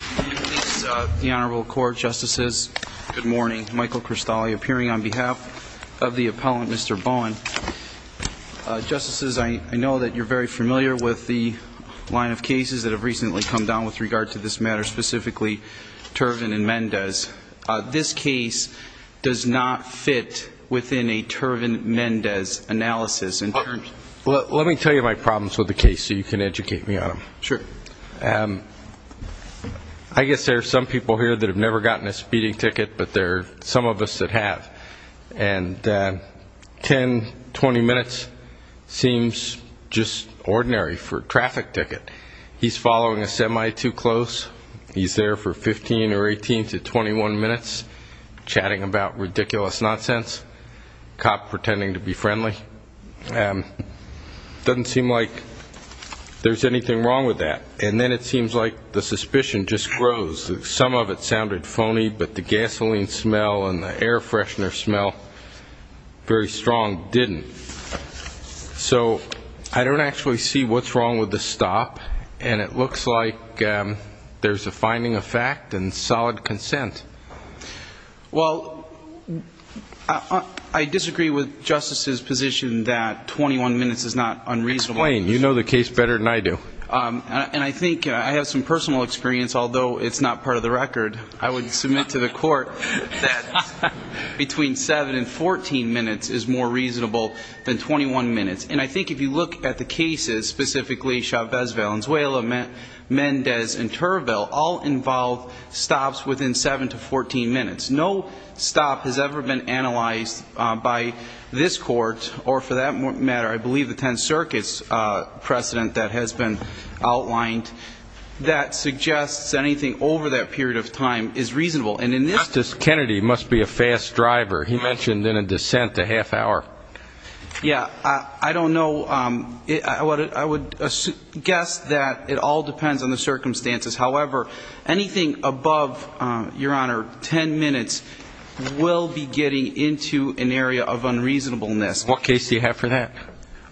The Honorable Court, Justices, good morning. Michael Cristalli appearing on behalf of the appellant, Mr. Bowen. Justices, I know that you're very familiar with the line of cases that have recently come down with regard to this matter, specifically Turvin and Mendez. This case does not fit within a Turvin-Mendez analysis. Let me tell you my problems with the case so you can educate me on them. I guess there are some people here that have never gotten a speeding ticket, but there are some of us that have. And 10, 20 minutes seems just ordinary for a traffic ticket. He's following a semi too close. He's there for 15 or 18 to 21 minutes chatting about ridiculous nonsense, cop pretending to be anything wrong with that. And then it seems like the suspicion just grows. Some of it sounded phony, but the gasoline smell and the air freshener smell, very strong, didn't. So I don't actually see what's wrong with the stop. And it looks like there's a finding of fact and solid consent. Well, I disagree with Justice's position that 21 minutes is not unreasonable. You know the case better than I do. And I think I have some personal experience, although it's not part of the record. I would submit to the court that between seven and 14 minutes is more reasonable than 21 minutes. And I think if you look at the cases, specifically Chavez, Valenzuela, Mendez and Turville, all involve stops within seven to 14 minutes. No stop has ever been analyzed by this court or for that matter, I believe the 10 circuits precedent that has been outlined that suggests anything over that period of time is reasonable. Justice Kennedy must be a fast driver. He mentioned in a dissent a half hour. Yeah, I don't know. I would guess that it all depends on the circumstances. However, anything above, Your Honor, 10 minutes will be getting into an area of unreasonableness. What case do you have for that?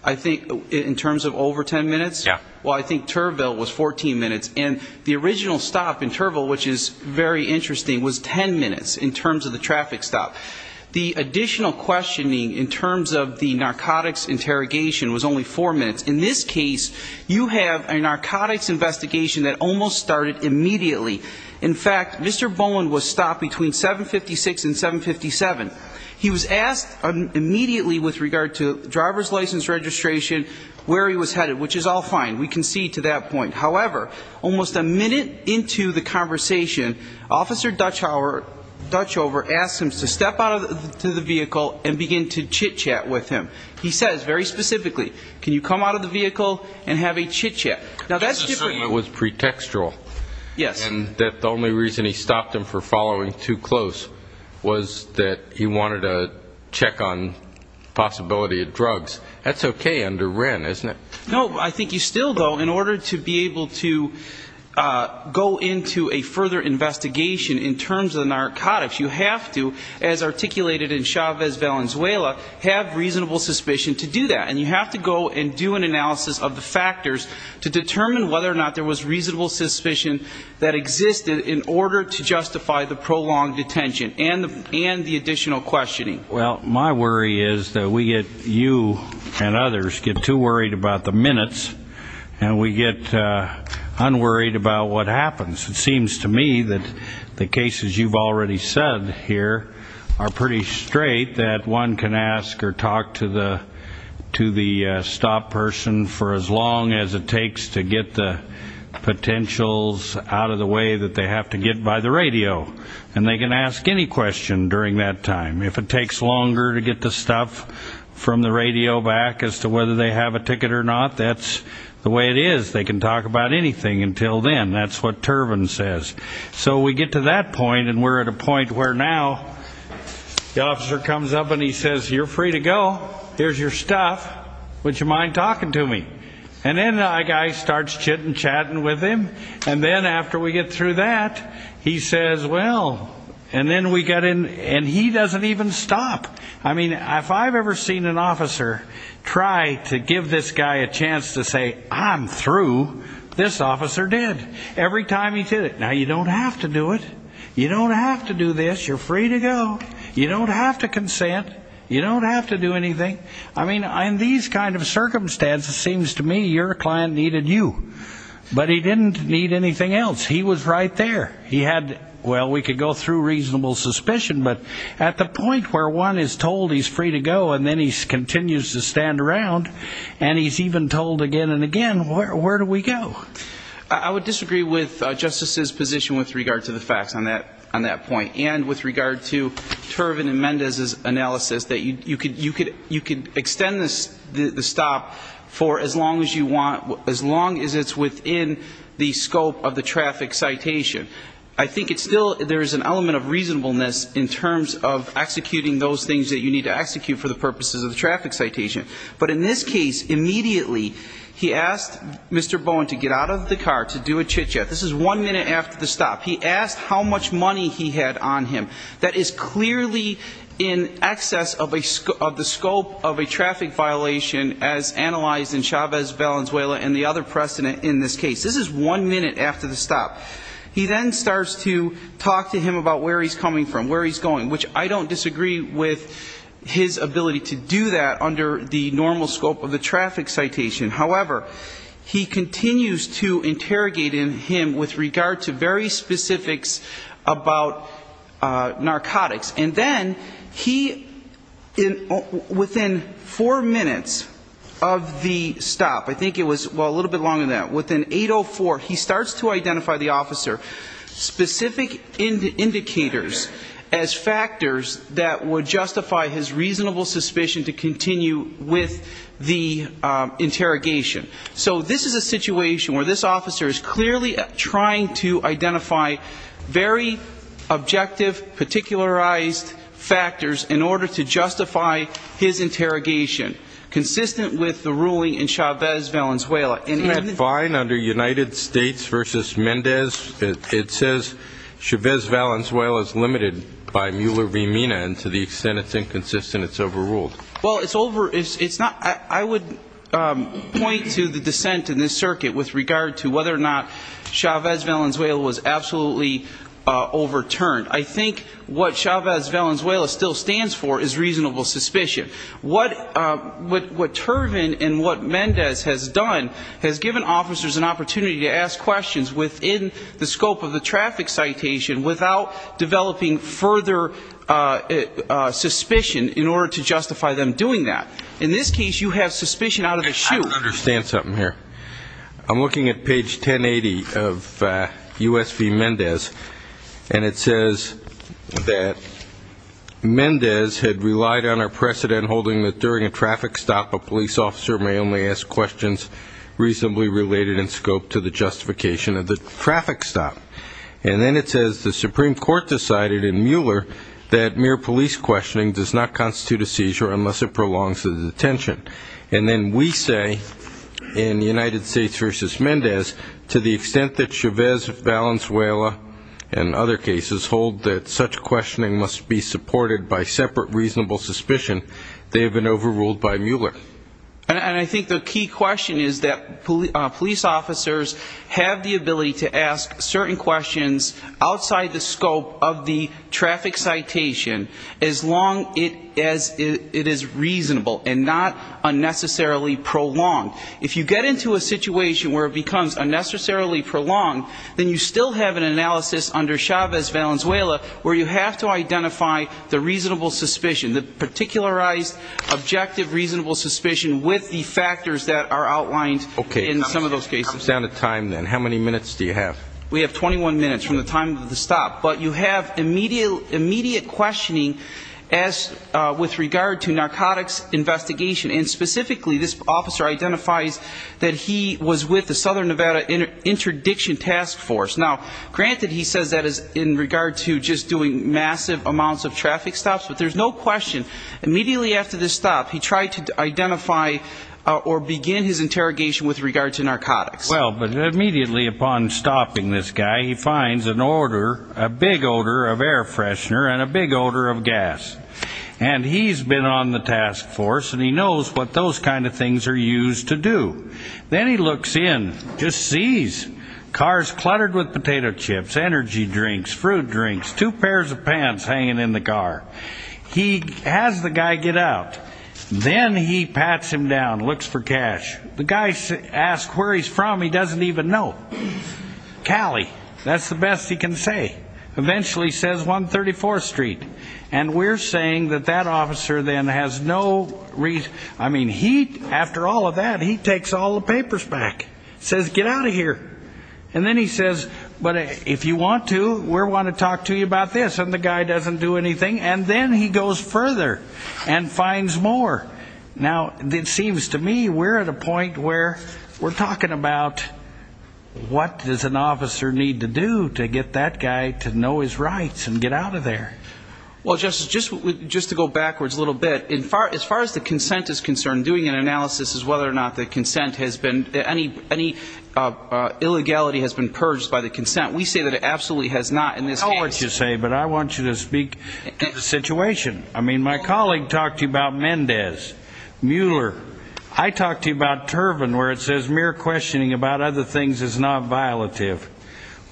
I think in terms of over 10 minutes? Yeah. Well, I think Turville was 14 minutes. And the original stop in Turville, which is very interesting, was 10 minutes in terms of the traffic stop. The additional questioning in terms of the narcotics interrogation was only four minutes. In this case, you have a narcotics investigation that almost started immediately. In fact, Mr. Bowen was stopped between 756 and 757. He was asked immediately with regard to driver's license registration where he was headed, which is all fine. We concede to that point. However, almost a minute into the conversation, Officer Dutchover asked him to step out of the vehicle and begin to chit-chat with him. He says very specifically, can you come out of the vehicle and have a chit-chat? Now that's different. His assertion was pretextual. Yes. And that the only reason he stopped him for was because he wanted to check on the possibility of drugs. That's okay under Wren, isn't it? No. I think you still, though, in order to be able to go into a further investigation in terms of the narcotics, you have to, as articulated in Chavez Valenzuela, have reasonable suspicion to do that. And you have to go and do an analysis of the factors to determine whether or not there was reasonable suspicion that existed in order to justify the prolonged detention and the additional questioning. Well, my worry is that we get, you and others, get too worried about the minutes and we get unworried about what happens. It seems to me that the cases you've already said here are pretty straight, that one can ask or talk to the stop person for as long as it takes to get the potentials out of the way that they have to get by the radio. And they can ask any question during that time. If it takes longer to get the stuff from the radio back as to whether they have a ticket or not, that's the way it is. They can talk about anything until then. That's what Turbin says. So we get to that point and we're at a point where now the officer comes up and he says, you're free to go. Here's your stuff. Would you mind talking to me? And then that guy starts chit-and-chatting with him. And then after we get through that, he says, well, and then we get in, and he doesn't even stop. I mean, if I've ever seen an officer try to give this guy a chance to say, I'm through, this officer did. Every time he did it. Now, you don't have to do it. You don't have to do this. You're free to go. You don't have to consent. You don't have to do anything. I mean, in these kind of circumstances, it seems to me your client needed you. But he didn't need anything else. He was right there. He had, well, we could go through reasonable suspicion, but at the point where one is told he's free to go and then he continues to stand around, and he's even told again and again, where do we go? I would disagree with Justice's position with regard to the facts on that point. And with as long as you want, as long as it's within the scope of the traffic citation. I think it's still, there's an element of reasonableness in terms of executing those things that you need to execute for the purposes of the traffic citation. But in this case, immediately he asked Mr. Bowen to get out of the car, to do a chit-chat. This is one minute after the stop. He asked how much money he had on him. That is clearly in excess of the scope of a traffic violation as analyzed in Chavez-Valenzuela and the other precedent in this case. This is one minute after the stop. He then starts to talk to him about where he's coming from, where he's going, which I don't disagree with his ability to do that under the normal scope of the traffic citation. However, he continues to interrogate him with regard to very specifics about narcotics. And then he, within four minutes of the stop, I think it was a little bit longer than that, within 8.04, he starts to identify the officer, specific indicators as factors that would justify his reasonable suspicion to continue with the interrogation. So this is a situation where this officer is clearly trying to identify very objective, particularized factors in order to justify his interrogation, consistent with the ruling in Chavez-Valenzuela. And in the fine under United States v. Mendez, it says Chavez-Valenzuela is limited by Mueller-Rimina and to the extent it's inconsistent, it's overruled. Well it's over, it's not, I would point to the dissent in this circuit with regard to whether or not Chavez-Valenzuela was absolutely overturned. I think what Chavez-Valenzuela still stands for is reasonable suspicion. What Turvin and what Mendez has done has given officers an opportunity to ask questions within the scope of the traffic citation without developing further suspicion in order to justify them doing that. In this case you have suspicion out of the chute. I don't understand something here. I'm looking at page 1080 of U.S. v. Mendez and it says that Mendez had relied on our precedent holding that during a traffic stop a police officer may only ask questions reasonably related in scope to the justification of the traffic stop. And then it says the Supreme Court decided in Mueller that mere police questioning does not constitute a seizure unless it prolongs the detention. And then we say in United States v. Mendez to the extent that Chavez-Valenzuela and other cases hold that such questioning must be supported by separate reasonable suspicion, they have been overruled by Mueller. And I think the key question is that police officers have the ability to ask certain questions outside the scope of the traffic citation as long as it is reasonable and not unnecessarily prolonged. If you get into a situation where it becomes unnecessarily prolonged, then you still have an analysis under Chavez-Valenzuela where you have to identify the reasonable suspicion with the factors that are outlined in some of those cases. Okay. It comes down to time then. How many minutes do you have? We have 21 minutes from the time of the stop. But you have immediate questioning as with regard to narcotics investigation. And specifically this officer identifies that he was with the Southern Nevada Interdiction Task Force. Now granted he says that in regard to just doing massive amounts of traffic stops, but there's no question immediately after the stop he tried to identify or begin his interrogation with regard to narcotics. Well, but immediately upon stopping this guy, he finds an odor, a big odor of air freshener and a big odor of gas. And he's been on the task force and he knows what those kind of things are used to do. Then he looks in, just sees cars cluttered with potato chips, energy drinks, fruit drinks, two pairs of pants hanging in the car. He has the guy get out. Then he pats him down, looks for cash. The guy asks where he's from, he doesn't even know. Cali, that's the best he can say. Eventually says 134th Street. And we're saying that that officer then has no reason, I mean, he, after all of that, he takes all the papers back. Says get out of here. And then he says, but if you want to, we're going to talk to you about this. And the guy doesn't do anything. And then he goes further and finds more. Now it seems to me we're at a point where we're talking about what does an officer need to do to get that guy to know his rights and get out of there? Well, Justice, just to go backwards a little bit, as far as the consent is concerned, doing an analysis as whether or not the consent has been, any illegality has been purged by the consent, we say that it absolutely has not in this case. I know what you say, but I want you to speak to the situation. I mean, my colleague talked to you about Mendez, Mueller. I talked to you about Turvin, where it says mere questioning about other things is not violative.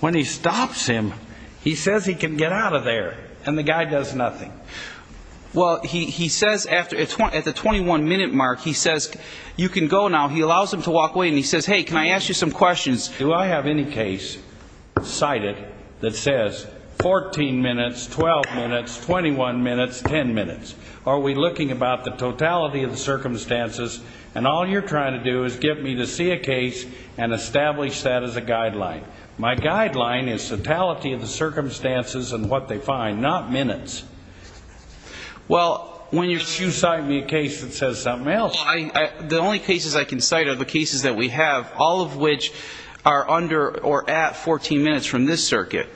When he stops him, he says he can get out of there. And the guy does nothing. Well, he says at the 21-minute mark, he says, you can go now. He allows him to walk away and he says, hey, can I ask you some questions? Do I have any case cited that says 14 minutes, 12 minutes, 21 minutes, 10 minutes? Are we looking about the totality of the circumstances? And all you're trying to do is get me to see a case and establish that as a guideline. My guideline is totality of the circumstances and what they find, not minutes. Well, when you cite me a case that says something else. The only cases I can cite are the cases that we have, all of which are under or at 14 minutes from this circuit.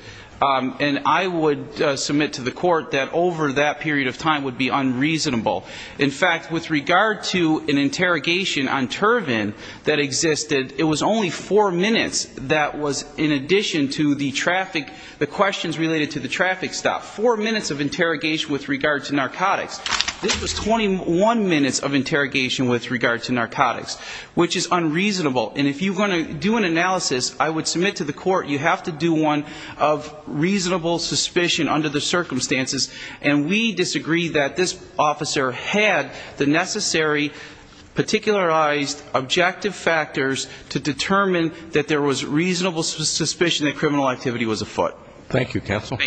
And I would submit to the court that over that period of time would be unreasonable. In fact, with regard to an interrogation on Turvin that existed, it was only four minutes that was in addition to the questions related to the traffic stop. Four minutes of interrogation with regard to narcotics. This was 21 minutes of interrogation with regard to narcotics, which is unreasonable. And if you're going to do an analysis, I would submit to the court, you have to do one of reasonable suspicion under the circumstances. And we disagree that this officer had the necessary particularized objective factors to determine that there was reasonable suspicion that criminal activity was afoot. Thank you, counsel.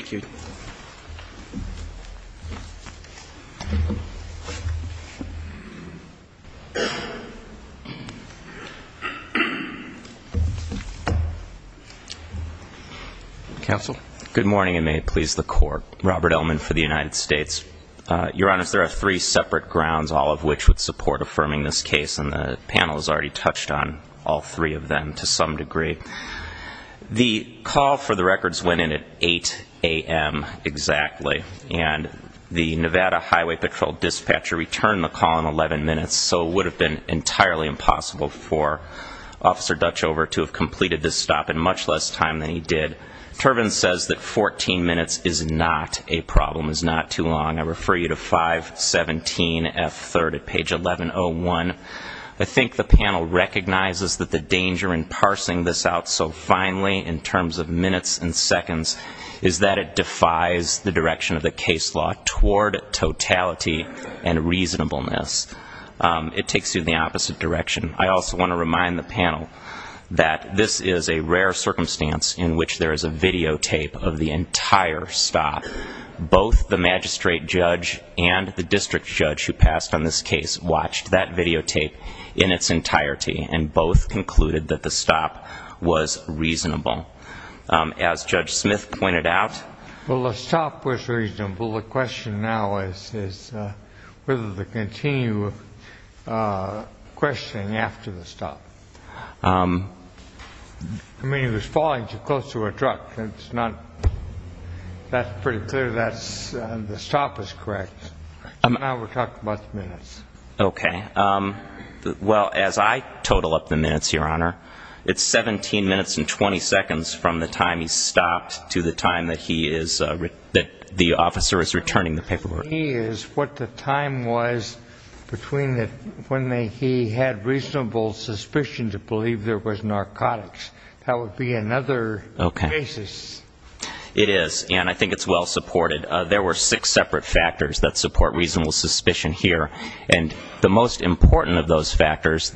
Counsel. Good morning, and may it please the court. Robert Elman for the United States. Your Honor, there are three separate grounds, all of which would support affirming this case, and the all three of them to some degree. The call for the records went in at 8 a.m. exactly. And the Nevada Highway Patrol dispatcher returned the call in 11 minutes, so it would have been entirely impossible for Officer Dutchover to have completed this stop in much less time than he did. Turvin says that 14 minutes is not a problem. It's not too long. I refer to the danger in parsing this out so finely in terms of minutes and seconds is that it defies the direction of the case law toward totality and reasonableness. It takes you in the opposite direction. I also want to remind the panel that this is a rare circumstance in which there is a videotape of the entire stop. Both the magistrate judge and the district judge who passed on this case watched that videotape in its entirety, and both concluded that the stop was reasonable. As Judge Smith pointed out... Well, the stop was reasonable. The question now is whether to continue questioning after the stop. I mean, it was falling too close to a truck. That's pretty clear that the stop was correct. Now we're talking about the minutes. Okay. Well, as I total up the minutes, Your Honor, it's 17 minutes and 20 seconds from the time he stopped to the time that he is, that the officer is returning the paperwork. The key is what the time was between when he had reasonable suspicion to believe there was narcotics. That would be another basis. It is, and I think it's well-supported. There were six separate factors that support reasonable suspicion here, and the most important of those factors...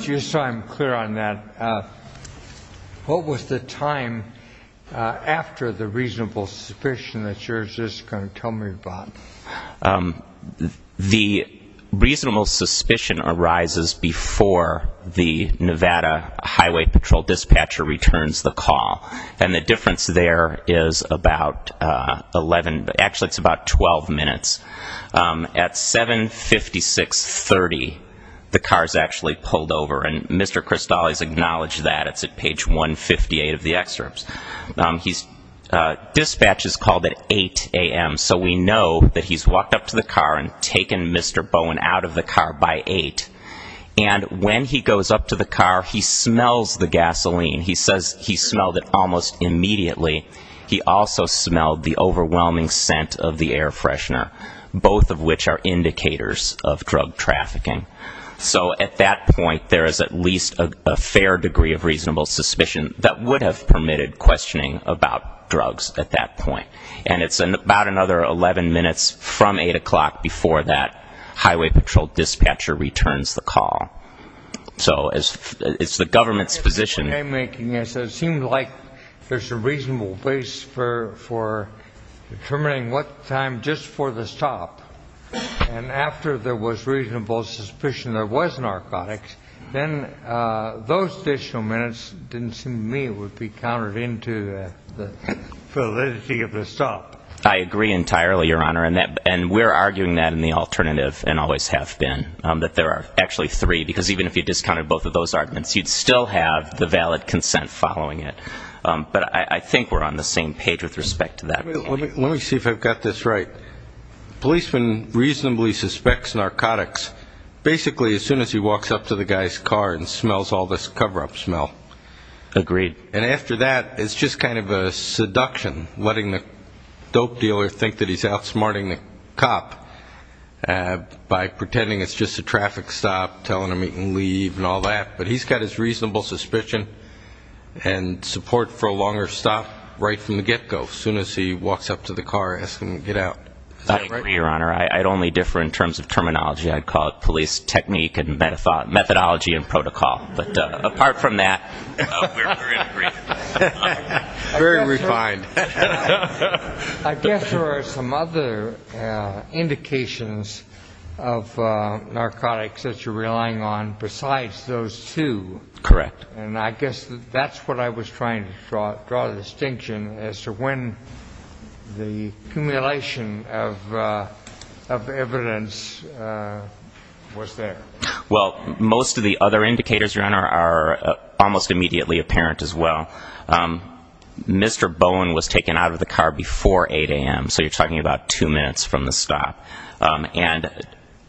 Just so I'm clear on that, what was the time after the reasonable suspicion that you're just going to tell me about? The reasonable suspicion arises before the Nevada Highway Patrol dispatcher returns the call, and the difference there is about 11... Actually, it's about 12 minutes. At 7.56.30, the car's actually pulled over, and Mr. Cristales acknowledged that. It's at page 158 of the excerpts. His dispatch is called at 8 a.m., so we know that he's walked up to the car and taken Mr. Bowen out of the car by 8, and when he goes up to the car, he smells the gasoline. He smelled it almost immediately. He also smelled the overwhelming scent of the air freshener, both of which are indicators of drug trafficking. So at that point, there is at least a fair degree of reasonable suspicion that would have permitted questioning about drugs at that point, and it's about another 11 minutes from 8 o'clock before that highway patrol dispatcher returns the call. So it's the government's position... In my making, it seemed like there's a reasonable place for determining what time just for the stop, and after there was reasonable suspicion there was narcotics, then those additional minutes didn't seem to me to be counted into the validity of the stop. I agree entirely, Your Honor, and we're arguing that in the alternative, and always have been, that there are actually three, because even if you discounted both of those arguments, you'd still have the valid consent following it. But I think we're on the same page with respect to that. Let me see if I've got this right. Policeman reasonably suspects narcotics basically as soon as he walks up to the guy's car and smells all this cover-up smell. Agreed. And after that, it's just kind of a seduction, letting the dope dealer think that he's outsmarting a cop by pretending it's just a traffic stop, telling him he can leave and all that. But he's got his reasonable suspicion and support for a longer stop right from the get-go, as soon as he walks up to the car asking to get out. I agree, Your Honor. I'd only differ in terms of terminology. I'd call it police technique and methodology and protocol. But apart from that... We're in agreement. Very refined. I guess there are some other indications of narcotics that you're relying on besides those two. Correct. And I guess that's what I was trying to draw the distinction as to when the accumulation of evidence was there. Well, most of the other indicators, Your Honor, are almost immediately apparent as well. Mr. Bowen was taken out of the car before 8 a.m. So you're talking about two minutes from the stop. And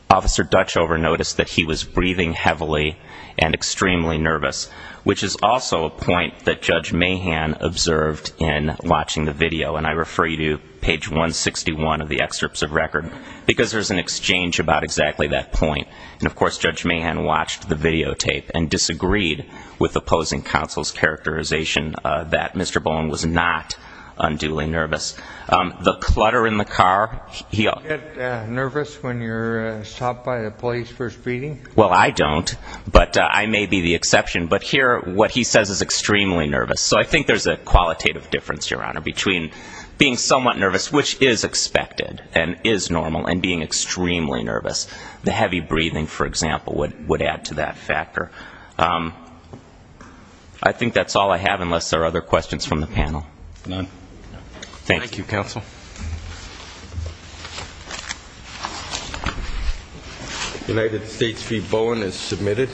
Officer Dutchover noticed that he was breathing heavily and extremely nervous, which is also a point that Judge Mahan observed in watching the video. And I refer you to page 161 of the excerpts of record, because there's an exchange about exactly that point. And of course, Judge Mahan watched the videotape and disagreed with opposing counsel's characterization that Mr. Bowen was not unduly nervous. The clutter in the car... Do you get nervous when you're stopped by the police for speeding? Well, I don't. But I may be the exception. But here, what he says is extremely nervous. So I think there's a qualitative difference, Your Honor, between being somewhat nervous, which is expected and is normal, and being extremely nervous. The heavy breathing, for example, would add to that factor. I think that's all I have, unless there are other questions from the panel. None. Thank you. Thank you, counsel. United States v. Bowen is submitted.